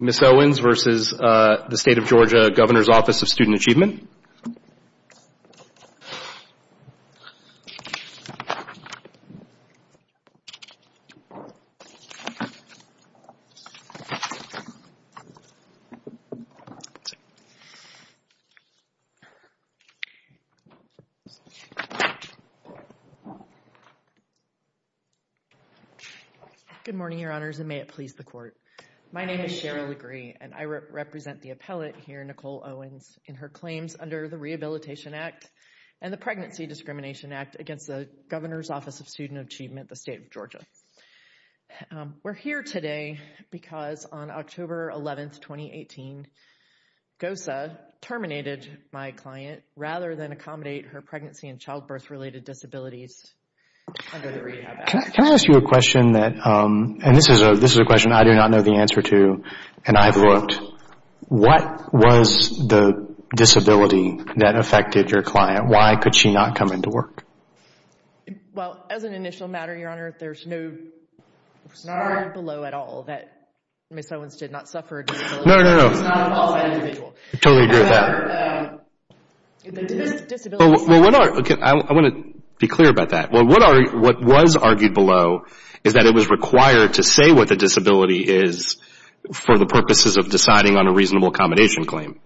Ms. Owens v. State of Georgia, Governor's Office of Student Achievement Good morning, Your Honors, and may it please the Court. My name is Cheryl Legree, and I represent the appellate here, Nicole Owens, in her claims under the Rehabilitation Act and the Pregnancy Discrimination Act against the Governor's Office of Student Achievement, the State of Georgia. We're here today because on October 11, 2018, GOSA terminated my client rather than accommodate her pregnancy and childbirth-related disabilities under the Rehab Act. Can I ask you a question that, and this is a question I do not know the answer to, and I've looked. What was the disability that affected your client? Why could she not come into work? Well, as an initial matter, Your Honor, there's no argument below at all that Ms. Owens did not suffer a disability. No, no, no. It's not at all that individual. I totally agree with that. However, the disability... I want to be clear about that. What was argued below is that it was required to say what the disability is for the purposes of deciding on a reasonable accommodation claim.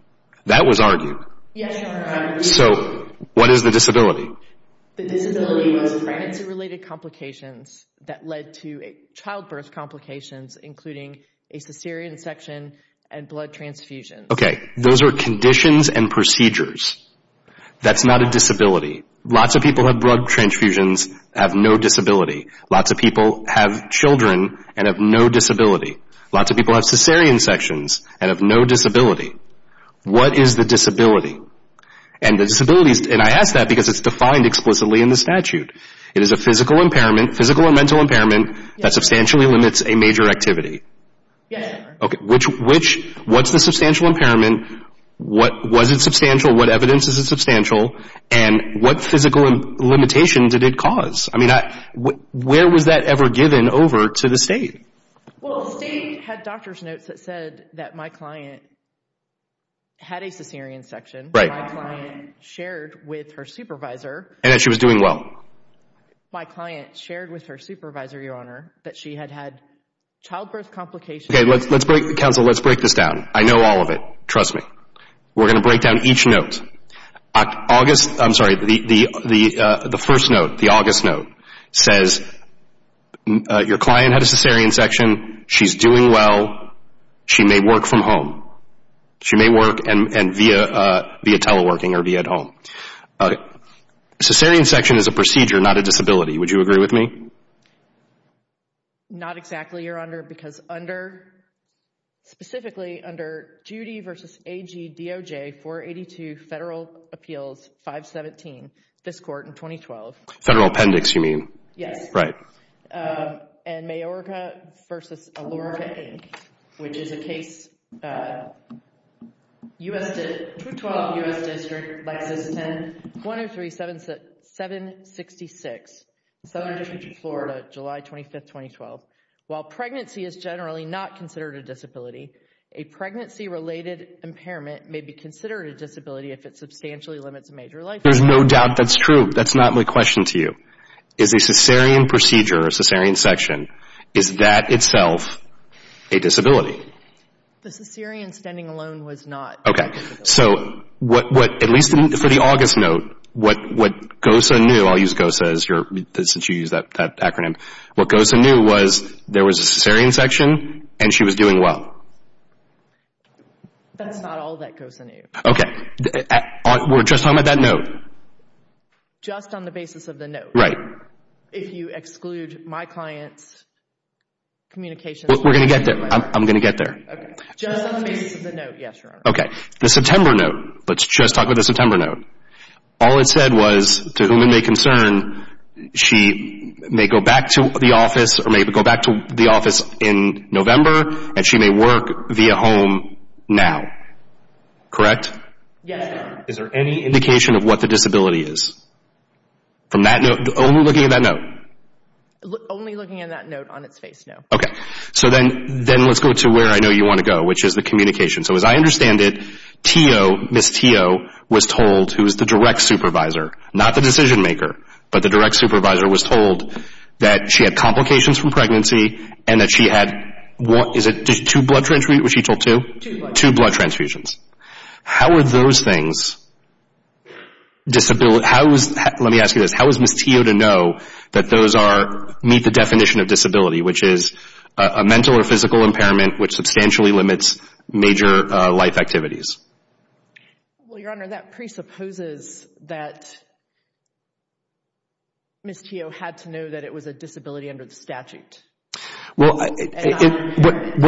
That was argued. Yes, Your Honor. So, what is the disability? The disability was pregnancy-related complications that led to childbirth complications, including a cesarean section and blood transfusions. Okay. Those are conditions and procedures. That's not a disability. Lots of people have blood transfusions, have no disability. Lots of people have children and have no disability. Lots of people have cesarean sections and have no disability. What is the disability? And the disability, and I ask that because it's defined explicitly in the statute. It is a physical impairment, physical or mental impairment, that substantially limits a major activity. Yes, Your Honor. Okay. What's the substantial impairment? Was it substantial? What evidence is it substantial? And what physical limitations did it cause? I mean, where was that ever given over to the State? Well, the State had doctor's notes that said that my client had a cesarean section. Right. My client shared with her supervisor. And that she was doing well. My client shared with her supervisor, Your Honor, that she had had childbirth complications. Okay. Let's break, counsel, let's break this down. I know all of it. Trust me. We're going to break down each note. August, I'm sorry, the first note, the August note, says your client had a cesarean section. She's doing well. She may work from home. She may work via teleworking or via at home. Okay. A cesarean section is a procedure, not a disability. Would you agree with me? Not exactly, Your Honor, because under, specifically under Judy v. A. G. D. O. J. 482, Federal Appeals 517, this Court in 2012. Federal Appendix, you mean? Yes. Right. And Mayorka v. Alorica, Inc., which is a case, 212 U.S. District, Lexington, 103-766, Southern District of Florida, July 25th, 2012. While pregnancy is generally not considered a disability, a pregnancy-related impairment may be considered a disability if it substantially limits a major life form. There's no doubt that's true. That's not my question to you. Is a cesarean procedure, a cesarean section, is that itself a disability? The cesarean standing alone was not a disability. Okay. So what, at least for the August note, what GOSA knew, I'll use GOSA as your, since you used that acronym, what GOSA knew was there was a cesarean section and she was doing well. That's not all that GOSA knew. Okay. We're just talking about that note. Just on the basis of the note. Right. If you exclude my client's communications. We're going to get there. I'm going to get there. Just on the basis of the note, yes, Your Honor. Okay. The September note. Let's just talk about the September note. All it said was, to whom it may concern, she may go back to the office or may go back to the office in now. Correct? Yes, Your Honor. Is there any indication of what the disability is? From that note, only looking at that note? Only looking at that note on its face, no. Okay. So then let's go to where I know you want to go, which is the communication. So as I understand it, T.O., Ms. T.O., was told, who is the direct supervisor, not the decision maker, but the direct supervisor, was told that she had complications from pregnancy and that she had, is it two blood transfusions, was she told two? Two blood transfusions. Two blood transfusions. How are those things, let me ask you this, how is Ms. T.O. to know that those meet the definition of disability, which is a mental or physical impairment which substantially limits major life activities? Well, Your Honor, that presupposes that Ms. T.O. had to know that it was a disability under the statute. Well, what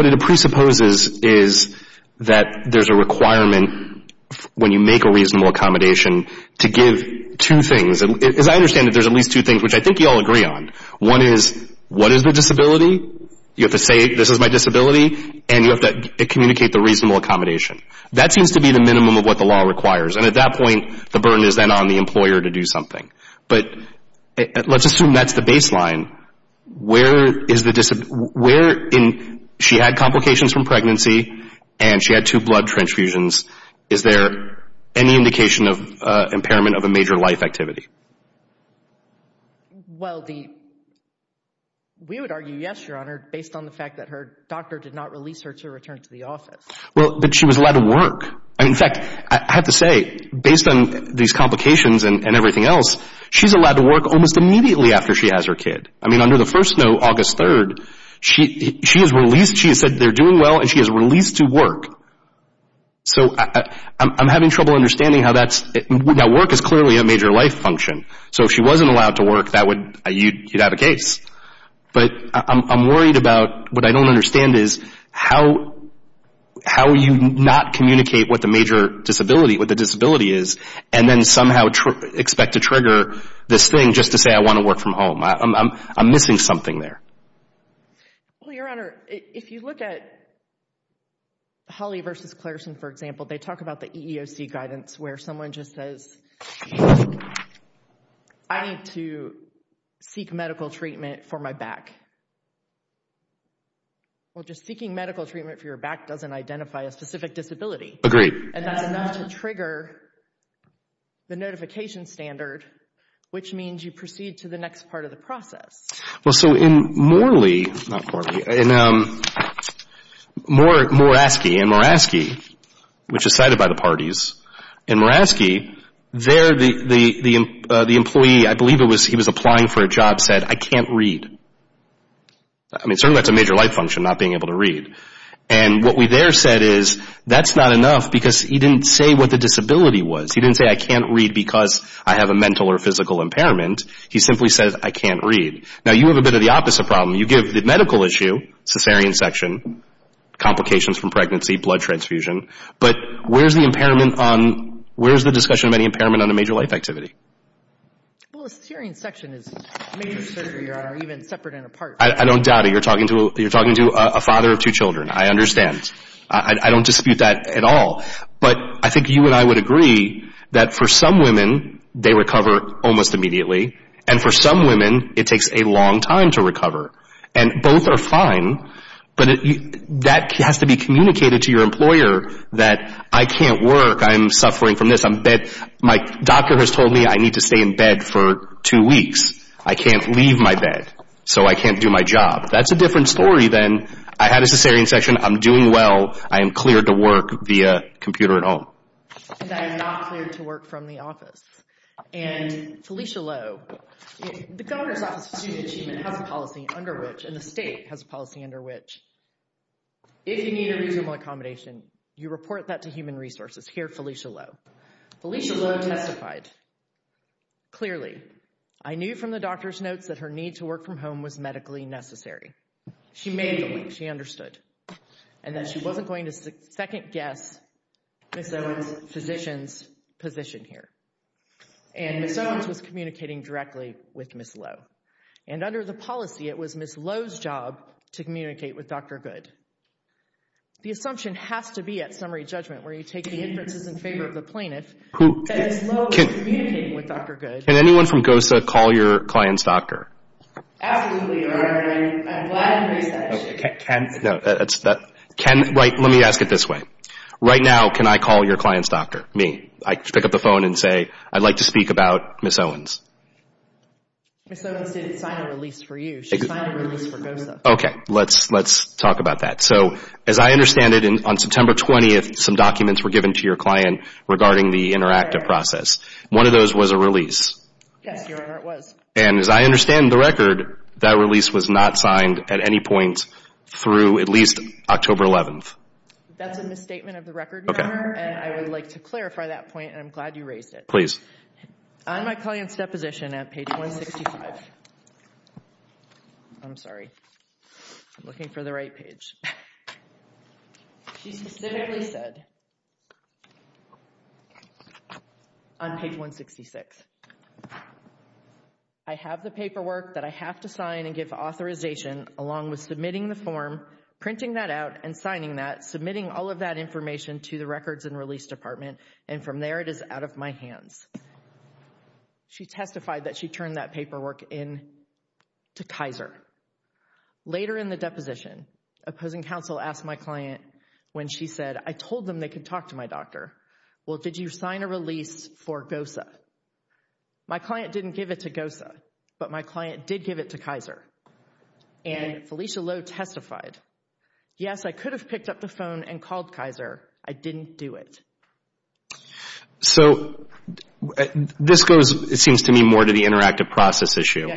it presupposes is that there's a requirement when you make a reasonable accommodation to give two things. As I understand it, there's at least two things which I think you all agree on. One is, what is the disability? You have to say, this is my disability, and you have to communicate the reasonable accommodation. That seems to be the minimum of what the law requires, and at that point, the burden is then on the employer to do something. But let's assume that's the baseline. Where is the disability, where in, she had complications from pregnancy, and she had two blood transfusions, is there any indication of impairment of a major life activity? Well, the, we would argue yes, Your Honor, based on the fact that her doctor did not release her to return to the office. Well, but she was allowed to work. In fact, I have to say, based on these complications and everything else, she's allowed to work almost immediately after she has her kid. I mean, under the first note, August 3rd, she has released, she has said they're doing well, and she has released to work. So I'm having trouble understanding how that's, now work is clearly a major life function. So if she wasn't allowed to work, that would, you'd have a case. But I'm worried about, what I don't understand is, how you not communicate what the major disability, what the disability is, and then somehow expect to trigger this thing just to say, I want to work from home. I'm missing something there. Well, Your Honor, if you look at Holly v. Clareson, for example, they talk about the EEOC guidance, where someone just says, I need to seek medical treatment for my back. Well, just seeking medical treatment for your back doesn't identify a specific disability. Agreed. And that's enough to trigger the notification standard, which means you proceed to the next part of the process. Well, so in Morley, not Morley, in Moraski, in Moraski, which is cited by the parties, in Moraski, there the employee, I believe he was applying for a job, said, I can't read. I mean, certainly that's a major life function, not being able to read. And what we there said is, that's not enough, because he didn't say what the disability was. He didn't say, I can't read because I have a mental or physical impairment. He simply said, I can't read. Now, you have a bit of the opposite problem. You give the medical issue, cesarean section, complications from pregnancy, blood transfusion, but where's the impairment on, where's the discussion of any impairment on a major life activity? Well, a cesarean section is major surgery or even separate and apart. I don't doubt it. You're talking to a father of two children. I understand. I don't dispute that at all. But I think you and I would agree that for some women, they recover almost immediately. And for some women, it takes a long time to recover. And both are fine, but that has to be communicated to your employer that I can't work. I'm suffering from this. My doctor has told me I need to stay in bed for two weeks. I can't leave my bed, so I can't do my job. That's a different story than, I had a cesarean section, I'm doing well, I am cleared to work via computer at home. That is not cleared to work from the office. And Felicia Lowe, the Governor's Office of Student Achievement has a policy under which, and the state has a policy under which, if you need a reasonable accommodation, you report that to Human Resources. Here, Felicia Lowe. Felicia Lowe testified. Clearly, I knew from the doctor's notes that her need to work from home was medically necessary. She made the link. She understood. And that she wasn't going to second guess Ms. Owens' physician's position here. And Ms. Owens was communicating directly with Ms. Lowe. And under the policy, it was Ms. Lowe's job to communicate with Dr. Good. The assumption has to be at summary judgment, where you take the inferences in favor of the plaintiff, and Ms. Lowe was communicating with Dr. Good. Can anyone from GOSA call your client's doctor? Absolutely, Your Honor. I'm glad you raised that issue. Let me ask it this way. Right now, can I call your client's doctor? Me. I pick up the phone and say, I'd like to speak about Ms. Owens. Ms. Owens didn't sign a release for you. She signed a release for GOSA. Okay. Let's talk about that. So, as I understand it, on September 20th, some documents were given to your client regarding the interactive process. One of those was a release. Yes, Your Honor, it was. And as I understand the record, that release was not signed at any point through at least October 11th. That's a misstatement of the record, Your Honor. And I would like to clarify that point, and I'm glad you raised it. I'm my client's deposition at page 165. I'm sorry. I'm looking for the right page. She specifically said on page 166, I have the paperwork that I have to sign and give authorization along with submitting the form, printing that out, and signing that, submitting all of that information to the Records and Release Department. And from there, it is out of my hands. She testified that she turned that paperwork in to Kaiser. Later in the deposition, opposing counsel asked my client when she said, I told them they could talk to my doctor. Well, did you sign a release for GOSA? My client didn't give it to GOSA, but my client did give it to Kaiser. And Felicia Lowe testified, yes, I could have picked up the phone and called Kaiser. I didn't do it. So, this goes, it seems to me, more to the interactive process issue.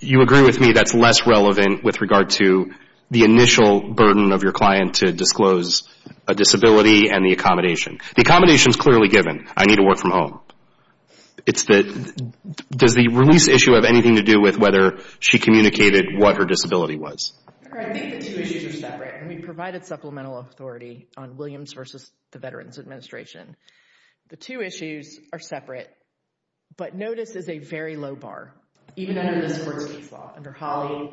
You agree with me that's less relevant with regard to the initial burden of your client to disclose a disability and the accommodation. The accommodation is clearly given. I need to work from home. Does the release issue have anything to do with whether she communicated what her disability was? I think the two issues are separate. We provided supplemental authority on Williams versus the Veterans Administration. The two issues are separate, but notice is a very low bar, even under this court's case law, under Holly.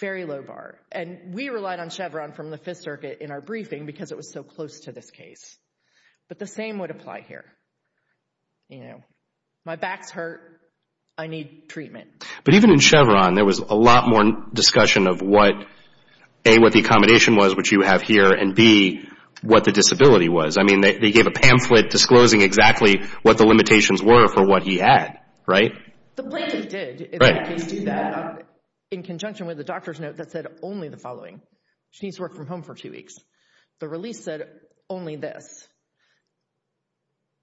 Very low bar. And we relied on Chevron from the Fifth Circuit in our briefing because it was so close to this case. But the same would apply here. My back's hurt. I need treatment. But even in Chevron, there was a lot more discussion of what, A, what the accommodation was, which you have here, and B, what the disability was. They gave a pamphlet disclosing exactly what the limitations were for what he had, right? The plaintiff did, in that case, do that in conjunction with the doctor's note that said only the following. She needs to work from home for two weeks. The release said only this.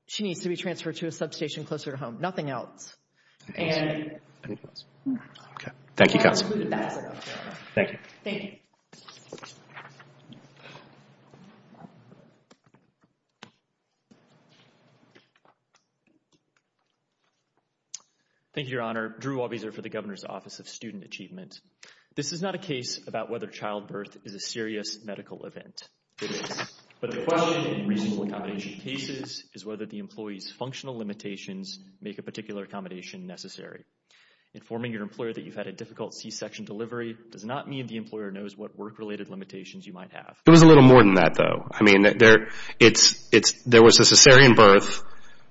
She needs to be transferred to a substation closer to home. Nothing else. Thank you, counsel. Thank you. Thank you, Your Honor. This is not a case about whether childbirth is a serious medical event. It is. But the question in reasonable accommodation cases is whether the employee's functional limitations make a particular accommodation necessary. Informing your employer that you've had a difficult C-section delivery does not mean the employer knows what work-related limitations you might have. It was a little more than that, though. I mean, there was a cesarean birth.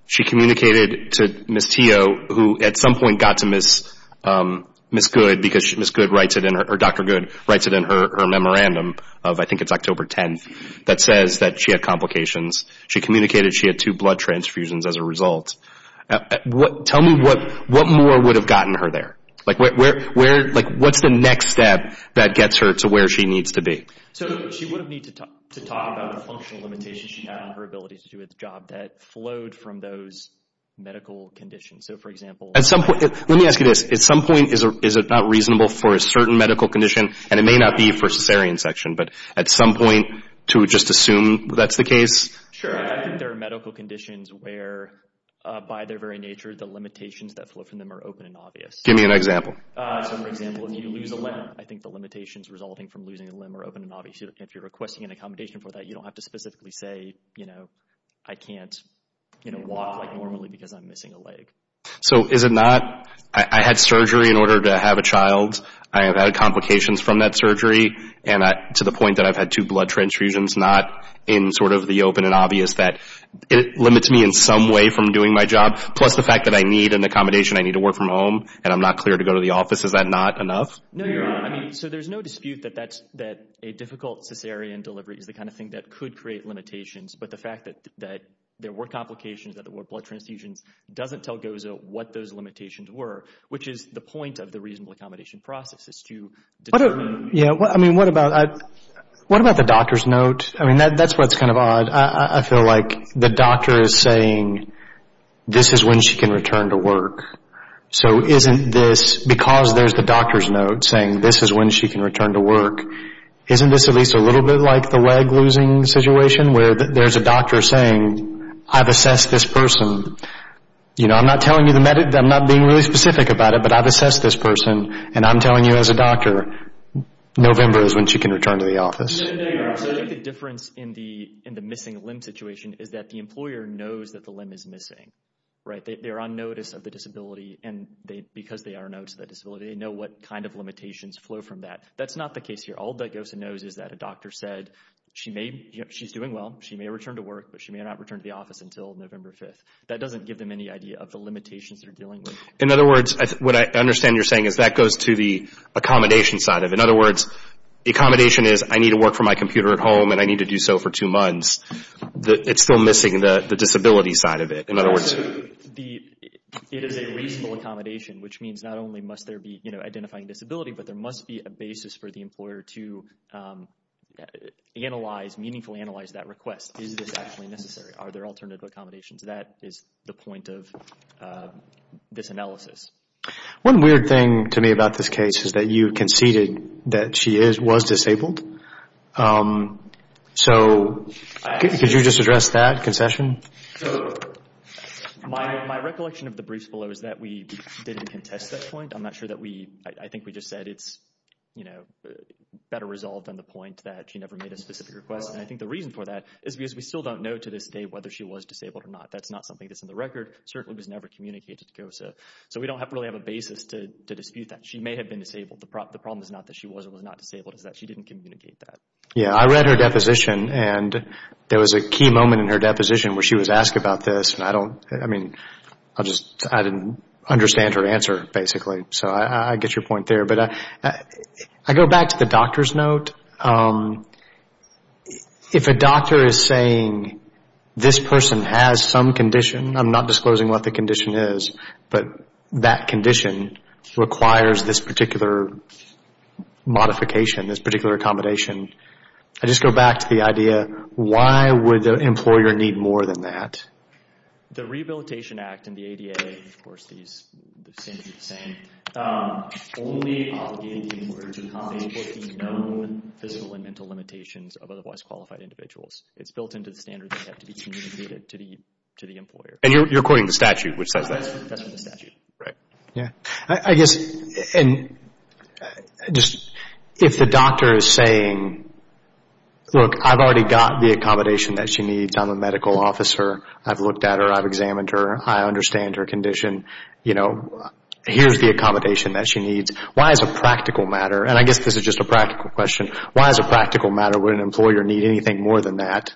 She communicated to Ms. Teo, who at some point got to Ms. Good, because Dr. Good writes it in her memorandum of, I think it's October 10th, that says that she had complications. She communicated she had two blood transfusions as a result. Tell me, what more would have gotten her there? Like, what's the next step that gets her to where she needs to be? So, she would need to talk about the functional limitations she had on her ability to do its job that flowed from those medical conditions. So, for example... Let me ask you this. At some point, is it not reasonable for a certain medical condition, and it may not be for a cesarean section, but at some point to just assume that's the case? Sure. I think there are medical conditions where, by their very nature, the limitations that flow from them are open and obvious. Give me an example. So, for example, if you lose a limb, I think the limitations resulting from losing a limb are open and obvious. If you're requesting an accommodation for that, you don't have to specifically say, you know, I can't walk normally because I'm missing a leg. I had surgery in order to have a child. I have had complications from that surgery, to the point that I've had two blood transfusions, not in sort of the open and obvious that it limits me in some way from doing my job. Plus the fact that I need an accommodation. I need to work from home, and I'm not cleared to go to the office. Is that not enough? No, you're right. So, there's no dispute that a difficult cesarean delivery is the kind of thing that could create limitations, but the fact that there were complications, that there were blood transfusions doesn't tell GOZA what those limitations were, which is the point of the reasonable accommodation process. What about the doctor's note? I mean, that's what's kind of odd. I feel like the doctor is saying, this is when she can return to work. So, isn't this, because there's the doctor's note saying this is when she can return to work, isn't this at least a little bit like the leg losing situation where there's a doctor saying, I've assessed this person. I'm not being really specific about it, but I've assessed this person, and I'm telling you as a doctor, November is when she can return to the office. I think the difference in the missing limb situation is that the employer knows that the limb is missing. They're on notice of the disability, and because they are on notice of the disability, they know what kind of limitations flow from that. That's not the case here. All that GOZA knows is that a doctor said she's doing well, she may return to work, but she may not return to the office until November 5th. That doesn't give them any idea of the limitations they're dealing with. In other words, what I understand you're saying is that goes to the accommodation side of it. In other words, the accommodation is, I need to work from my computer at home, and I need to do so for two months. It's still missing the disability side of it. It is a reasonable accommodation, which means not only must there be identifying disability, but there must be a basis for the employer to analyze, meaningfully analyze that request. Is this actually necessary? Are there alternative accommodations? That is the point of this analysis. One weird thing to me about this case is that you conceded that she was disabled. Could you just address that concession? My recollection of the briefs below is that we didn't contest that point. I'm not sure that we, I think we just said it's better resolved than the point that she never made a specific request. I think the reason for that is because we still don't know to this day whether she was disabled or not. That's not something that's in the record. It certainly was never communicated to GOZA. We don't really have a basis to dispute that. She may have been disabled. The problem is not that she was or was not disabled. It's that she didn't communicate that. I read her deposition, and there was a key moment in her deposition where she was asked about this. I didn't understand her answer, basically. I get your point there. I go back to the doctor's note. If a doctor is saying this person has some condition, I'm not disclosing what the condition is, but that condition requires this particular modification, this particular accommodation, I just go back to the idea why would the employer need more than that? The Rehabilitation Act and the ADA, of course, these are the same. Only obligating the employer to comply with the known physical and mental limitations of otherwise qualified individuals. It's built into the standards that have to be communicated to the employer. You're quoting the statute, which says that. That's from the statute. If the doctor is saying, look, I've already got the accommodation that she needs. I'm a medical officer. I've looked at her. I've examined her. I understand her condition. Here's the accommodation that she needs. Why as a practical matter, and I guess this is just a practical question, why as a practical matter would an employer need anything more than that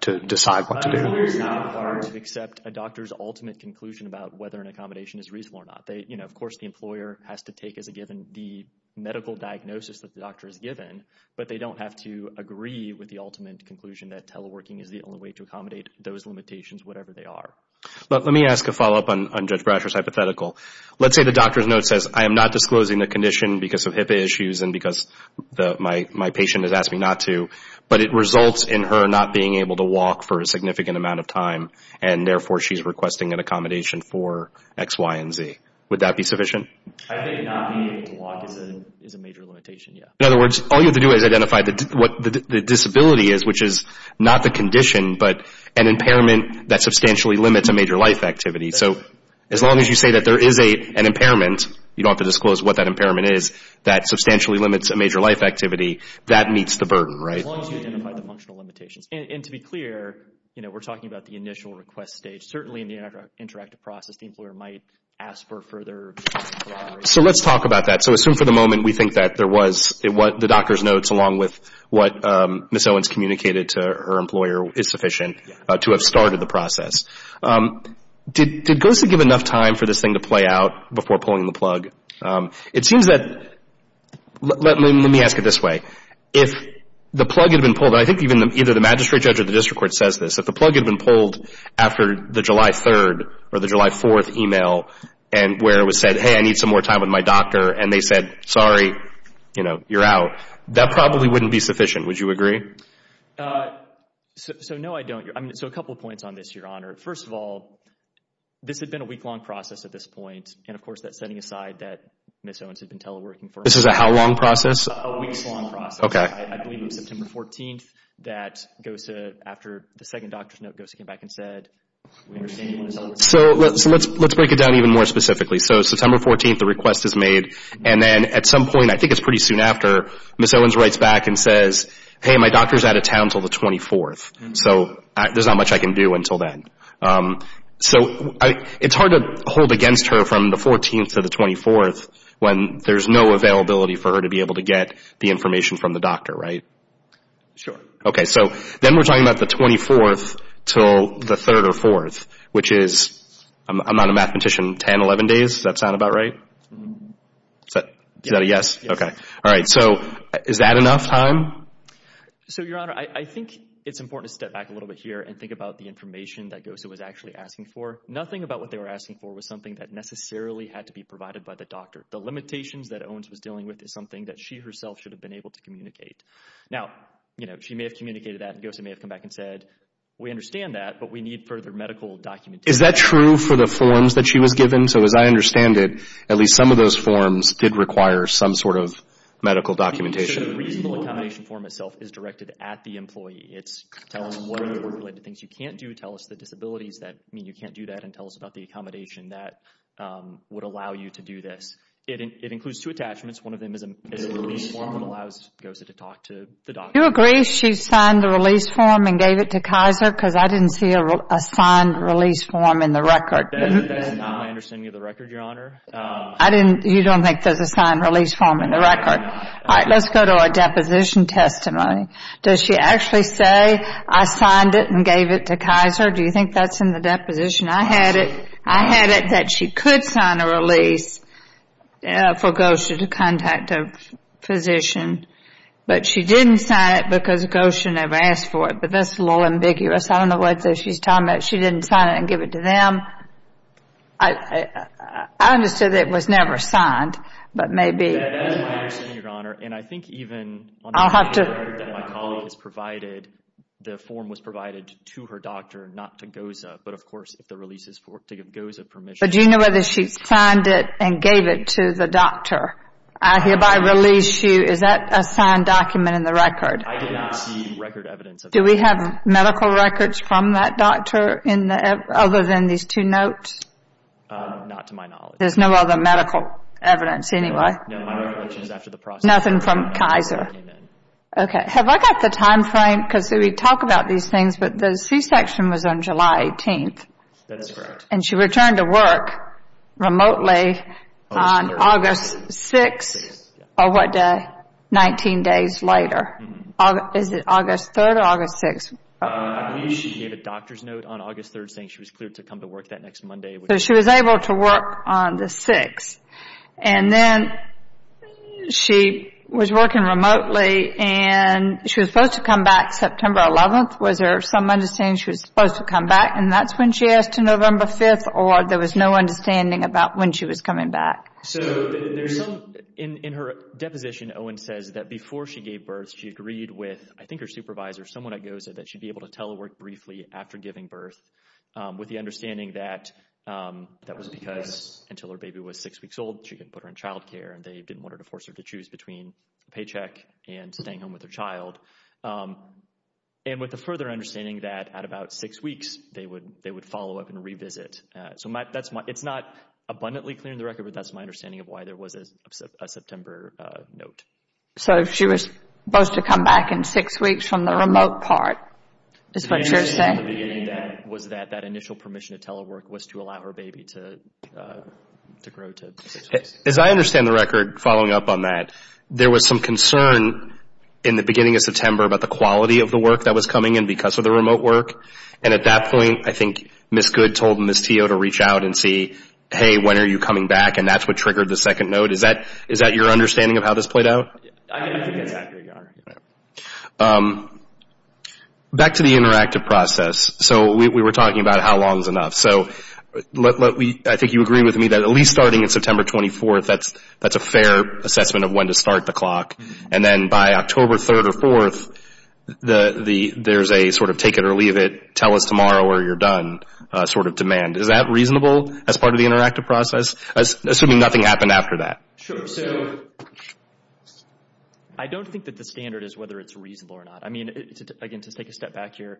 to decide what to do? It's not hard to accept a doctor's ultimate conclusion about whether an accommodation is reasonable or not. Of course, the employer has to take as a given the medical diagnosis that the doctor has given, but they don't have to agree with the ultimate conclusion that teleworking is the only way to accommodate those limitations, whatever they are. Let me ask a follow-up on Judge Brasher's hypothetical. Let's say the doctor's note says, I am not disclosing the condition because of HIPAA issues and because my patient has asked me not to, but it results in her not being able to walk for a significant amount of time, and therefore, she's requesting an accommodation for X, Y, and Z. Would that be sufficient? I think not being able to walk is a major limitation. In other words, all you have to do is identify what the disability is, which is not the condition, but an impairment that substantially limits a major life activity. As long as you say that there is an impairment, you don't have to disclose what that impairment is, that substantially limits a major life activity, that meets the burden. As long as you identify the functional limitations. To be clear, we're talking about the initial request stage. Certainly in the interactive process, the employer might ask for further... Let's talk about that. Assume for the moment we think that there was the doctor's notes along with what Ms. Owens communicated to her employer is sufficient to have started the process. Did GOSU give enough time for this thing to play out before pulling the plug? It seems that... Let me ask it this way. If the plug had been pulled... I think either the magistrate judge or the district court says this. If the plug had been pulled after the July 3rd or the July 4th email where it was said, hey, I need some more time with my doctor, and they said, sorry, you're out, that probably wouldn't be sufficient. Would you agree? No, I don't. A couple of points on this, Your Honor. First of all, this had been a week-long process at this point. And of course, that's setting aside that Ms. Owens had been teleworking for... This is a how long process? A week's long process. I believe it was September 14th that after the second doctor's note, GOSU came back and said... So let's break it down even more specifically. So September 14th, the request is made, and then at some point, I think it's pretty soon after, Ms. Owens writes back and says, hey, my doctor's out of town until the 24th. So there's not much I can do until then. So it's hard to hold against her from the 14th to the 24th when there's no availability for her to be able to get the information from the doctor, right? Sure. Okay, so then we're talking about the 24th until the 3rd or 4th, which is, I'm not a mathematician, 10, 11 days? Does that sound about right? Is that a yes? Okay. All right, so is that enough time? So, Your Honor, I think it's important to step back a little bit here and think about the information that GOSU was actually asking for. Nothing about what they were asking for was something that necessarily had to be provided by the doctor. The limitations that Owens was dealing with is something that she herself should have been able to communicate. Now, she may have communicated that, and GOSU may have come back and said, we understand that, but we need further medical documentation. Is that true for the forms that she was given? So as I understand it, at least some of those forms did require some sort of medical documentation. The reasonable accommodation form itself is directed at the employee. It's telling them what are the related things you can't do, tell us the disabilities that mean you can't do that, and tell us about the accommodation that would allow you to do this. It includes two attachments. One of them is a release form that allows GOSU to talk to the doctor. Do you agree she signed the release form and gave it to Kaiser? Because I didn't see a signed release form in the record. That's not my understanding of the record, Your Honor. You don't think there's a signed release form in the record? All right, let's go to a deposition testimony. Does she actually say, I signed it and gave it to Kaiser? Do you think that's in the deposition? I had it that she could sign a release for GOSU to contact a physician, but she didn't sign it because GOSU never asked for it. But that's a little ambiguous. I don't know what she's talking about. She didn't sign it and give it to them. I understood that it was never signed, but maybe. That's my understanding, Your Honor. And I think even on the record that my colleague has provided, the form was provided to her doctor, not to GOSU, but, of course, if the release is to give GOSU permission. But do you know whether she signed it and gave it to the doctor? I hereby release you. I did not see record evidence of that. Do we have medical records from that doctor other than these two notes? Not to my knowledge. There's no other medical evidence anyway? No, my recollection is after the process. Nothing from Kaiser? No, nothing came in. Okay. Have I got the timeframe? Because we talk about these things, but the C-section was on July 18th. That is correct. And she returned to work remotely on August 6th or what day, 19 days later. Is it August 3rd or August 6th? I believe she gave a doctor's note on August 3rd, saying she was cleared to come to work that next Monday. So she was able to work on the 6th, and then she was working remotely, and she was supposed to come back September 11th. Was there some understanding she was supposed to come back, and that's when she asked to November 5th, or there was no understanding about when she was coming back? So in her deposition, Owen says that before she gave birth she agreed with, I think, her supervisor, someone at GOSA, that she'd be able to telework briefly after giving birth, with the understanding that that was because until her baby was six weeks old, she didn't put her in child care, and they didn't want to force her to choose between a paycheck and staying home with her child. And with the further understanding that at about six weeks, they would follow up and revisit. It's not abundantly clear in the record, but that's my understanding of why there was a September note. So she was supposed to come back in six weeks from the remote part, is what you're saying? The initial thing at the beginning was that that initial permission to telework was to allow her baby to grow to six weeks. As I understand the record following up on that, there was some concern in the beginning of September about the quality of the work that was coming in because of the remote work, and at that point, I think Ms. Good told Ms. Teo to reach out and see, hey, when are you coming back, and that's what triggered the second note. Is that your understanding of how this played out? I think that's accurate, yeah. Back to the interactive process. So we were talking about how long is enough. So I think you agree with me that at least starting in September 24th, that's a fair assessment of when to start the clock. And then by October 3rd or 4th, there's a sort of take it or leave it, tell us tomorrow or you're done sort of demand. Is that reasonable as part of the interactive process, assuming nothing happened after that? Sure. So I don't think that the standard is whether it's reasonable or not. I mean, again, to take a step back here,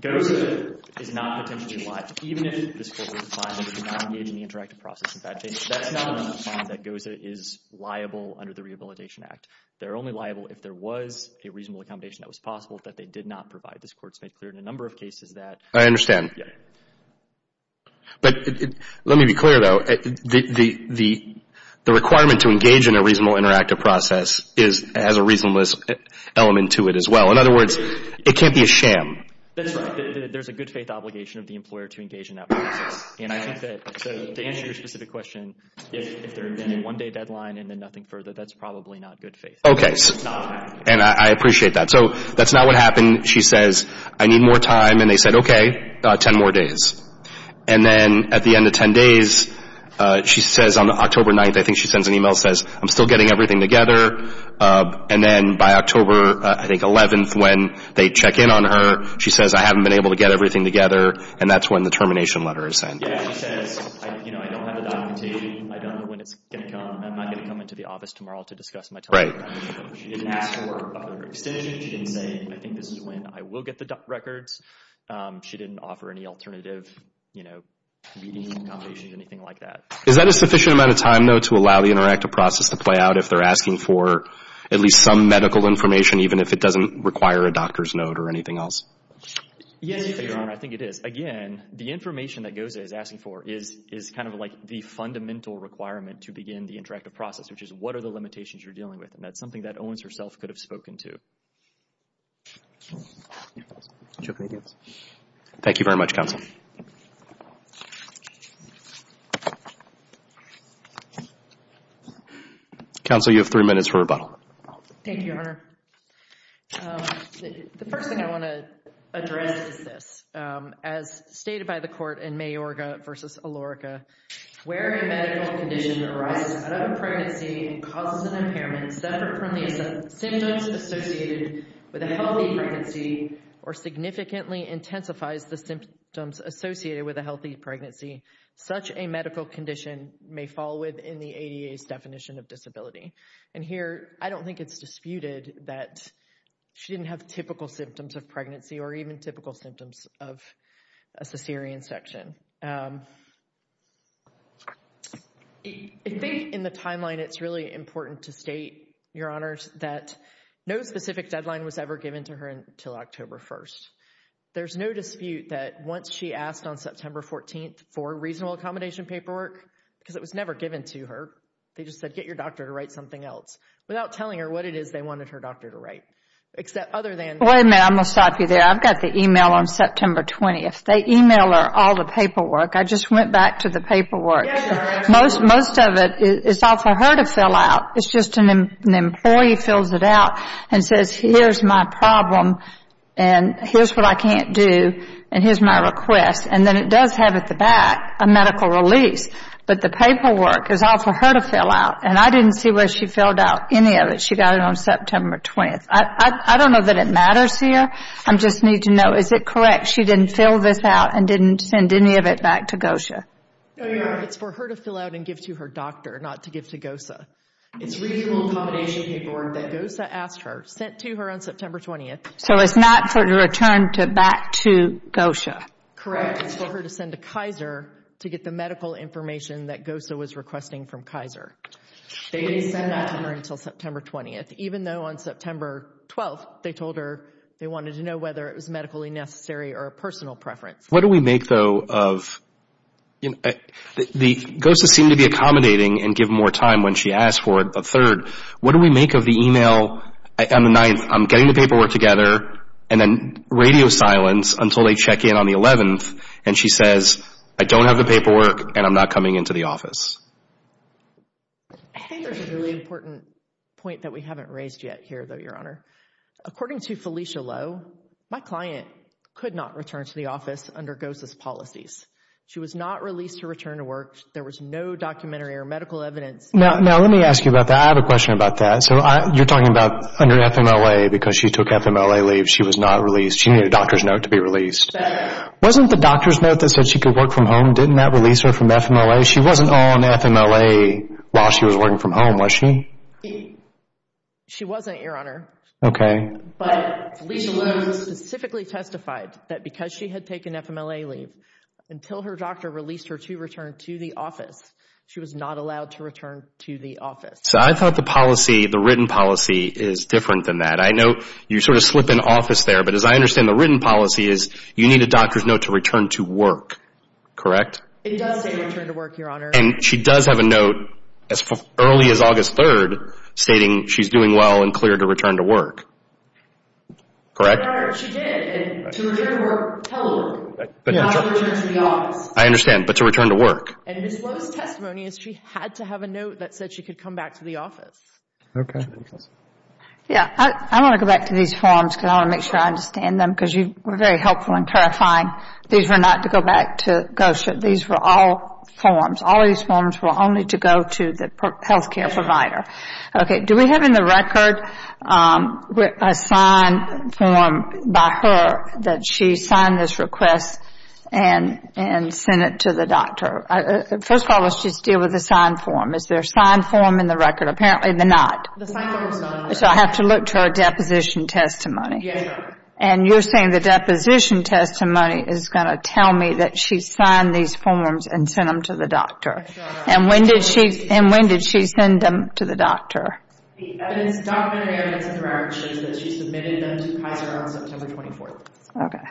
GOZA is not potentially liable, even if this court were to find that it did not engage in the interactive process. In fact, that's not a fine that GOZA is liable under the Rehabilitation Act. They're only liable if there was a reasonable accommodation that was possible that they did not provide. This court's made clear in a number of cases that. I understand. But let me be clear, though. The requirement to engage in a reasonable interactive process has a reasonableness element to it as well. In other words, it can't be a sham. That's right. There's a good faith obligation of the employer to engage in that process. And I think that to answer your specific question, if there had been a one-day deadline and then nothing further, that's probably not good faith. Okay. And I appreciate that. So that's not what happened. She says, I need more time. And they said, okay, 10 more days. And then at the end of 10 days, she says on October 9th, I think she sends an email and says, I'm still getting everything together. And then by October, I think, 11th, when they check in on her, she says, I haven't been able to get everything together. And that's when the termination letter is sent. Yeah, she says, you know, I don't have the documentation. I don't know when it's going to come. I'm not going to come into the office tomorrow to discuss my termination. Right. She didn't ask for an extension. She didn't say, I think this is when I will get the records. She didn't offer any alternative, you know, meeting accommodations, anything like that. Is that a sufficient amount of time, though, to allow the interactive process to play out if they're asking for at least some medical information, even if it doesn't require a doctor's note or anything else? Yes, Your Honor. I think it is. Again, the information that Goza is asking for is kind of like the fundamental requirement to begin the interactive process, which is what are the limitations you're dealing with. And that's something that Owens herself could have spoken to. Thank you very much, Counsel. Thank you, Your Honor. The first thing I want to address is this. As stated by the court in Mayorga v. Alorica, where a medical condition arises out of a pregnancy and causes an impairment separate from the symptoms associated with a healthy pregnancy or significantly intensifies the symptoms associated with a healthy pregnancy, such a medical condition may fall within the ADA's definition of disability. And here, I don't think it's disputed that she didn't have typical symptoms of pregnancy or even typical symptoms of a cesarean section. I think in the timeline, it's really important to state, Your Honors, that no specific deadline was ever given to her until October 1st. There's no dispute that once she asked on September 14th for reasonable accommodation paperwork, because it was never given to her, they just said, Get your doctor to write something else. Without telling her what it is they wanted her doctor to write. Wait a minute, I'm going to stop you there. I've got the email on September 20th. They email her all the paperwork. I just went back to the paperwork. Most of it is all for her to fill out. It's just an employee fills it out and says, Here's my problem, and here's what I can't do, and here's my request. And then it does have at the back a medical release. But the paperwork is all for her to fill out, and I didn't see where she filled out any of it. She got it on September 20th. I don't know that it matters here. I just need to know, is it correct she didn't fill this out and didn't send any of it back to GOSHA? No, Your Honor. It's for her to fill out and give to her doctor, not to give to GOSHA. It's reasonable accommodation paperwork that GOSHA asked her, sent to her on September 20th. So it's not for her to return back to GOSHA. Correct. It's for her to send to Kaiser to get the medical information that GOSHA was requesting from Kaiser. They didn't send that to her until September 20th, even though on September 12th they told her they wanted to know whether it was medically necessary or a personal preference. What do we make, though, of – GOSHA seemed to be accommodating and give more time when she asked for it. But third, what do we make of the email on the 9th, I'm getting the paperwork together, and then radio silence until they check in on the 11th and she says, I don't have the paperwork and I'm not coming into the office. I think there's a really important point that we haven't raised yet here, though, Your Honor. According to Felicia Lowe, my client could not return to the office under GOSHA's policies. She was not released to return to work. There was no documentary or medical evidence. Now let me ask you about that. I have a question about that. So you're talking about under FMLA, because she took FMLA leave, she was not released. She needed a doctor's note to be released. Wasn't the doctor's note that said she could work from home, didn't that release her from FMLA? She wasn't on FMLA while she was working from home, was she? She wasn't, Your Honor. Okay. But Felicia Lowe specifically testified that because she had taken FMLA leave, until her doctor released her to return to the office, she was not allowed to return to the office. So I thought the policy, the written policy, is different than that. I know you sort of slip in office there, but as I understand the written policy is you need a doctor's note to return to work, correct? It does say return to work, Your Honor. And she does have a note as early as August 3rd stating she's doing well and cleared to return to work, correct? Your Honor, she did. And to return to work, tell her not to return to the office. I understand, but to return to work. And Ms. Lowe's testimony is she had to have a note that said she could come back to the office. Okay. Yes. I want to go back to these forms because I want to make sure I understand them because you were very helpful in clarifying these were not to go back to GOSHA. These were all forms. All these forms were only to go to the health care provider. Okay. Do we have in the record a signed form by her that she signed this request and sent it to the doctor? First of all, let's just deal with the signed form. Is there a signed form in the record? Apparently they're not. The signed form is not on there. So I have to look to her deposition testimony? Yes, Your Honor. And you're saying the deposition testimony is going to tell me that she signed these forms and sent them to the doctor? Yes, Your Honor. And when did she send them to the doctor? The evidence, documented evidence in the record shows that she submitted them to Kaiser on September 24th. Okay.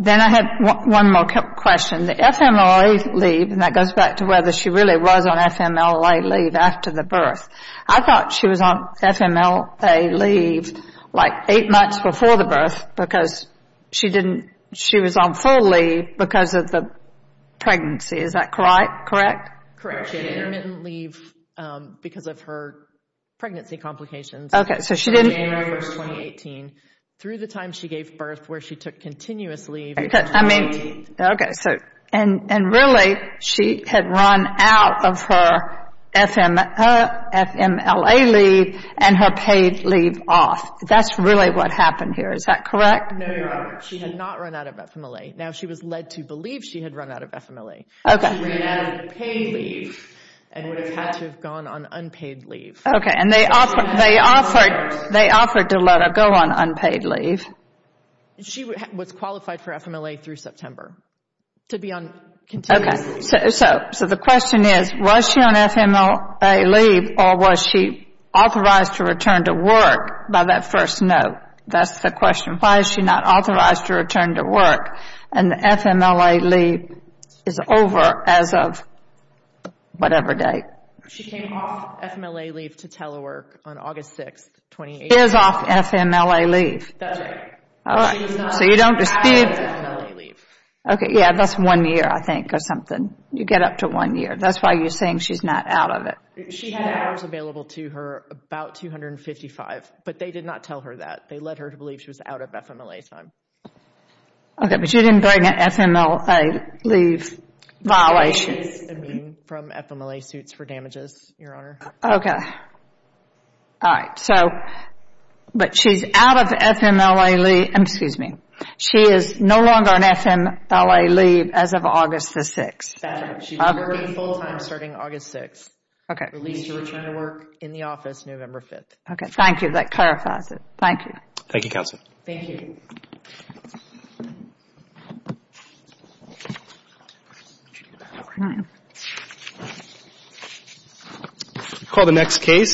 Then I have one more question. The FMLA leave, and that goes back to whether she really was on FMLA leave after the birth. I thought she was on FMLA leave like eight months before the birth because she was on full leave because of the pregnancy. Is that correct? Correct, Your Honor. She had intermittent leave because of her pregnancy complications. Okay. So she didn't. January 1, 2018. Through the time she gave birth where she took continuous leave. Okay. And really she had run out of her FMLA leave and her paid leave off. That's really what happened here. Is that correct? No, Your Honor. She had not run out of FMLA. Now, she was led to believe she had run out of FMLA. Okay. She ran out of paid leave and would have had to have gone on unpaid leave. Okay. And they offered to let her go on unpaid leave. She was qualified for FMLA through September to be on continuous leave. Okay. So the question is, was she on FMLA leave or was she authorized to return to work by that first note? That's the question. Why is she not authorized to return to work and the FMLA leave is over as of whatever date? She came off FMLA leave to telework on August 6, 2018. She is off FMLA leave. That's right. All right. So you don't dispute the FMLA leave. Okay. Yeah, that's one year, I think, or something. You get up to one year. That's why you're saying she's not out of it. She had hours available to her, about 255, but they did not tell her that. They led her to believe she was out of FMLA time. Okay. But she didn't bring an FMLA leave violation. It is a mean from FMLA suits for damages, Your Honor. Okay. All right. But she's out of FMLA leave. Excuse me. She is no longer on FMLA leave as of August the 6th. That's right. She's working full time starting August 6th. Okay. Released to return to work in the office November 5th. Okay. Thank you. That clarifies it. Thank you. Thank you, Counsel. Thank you. Call the next case.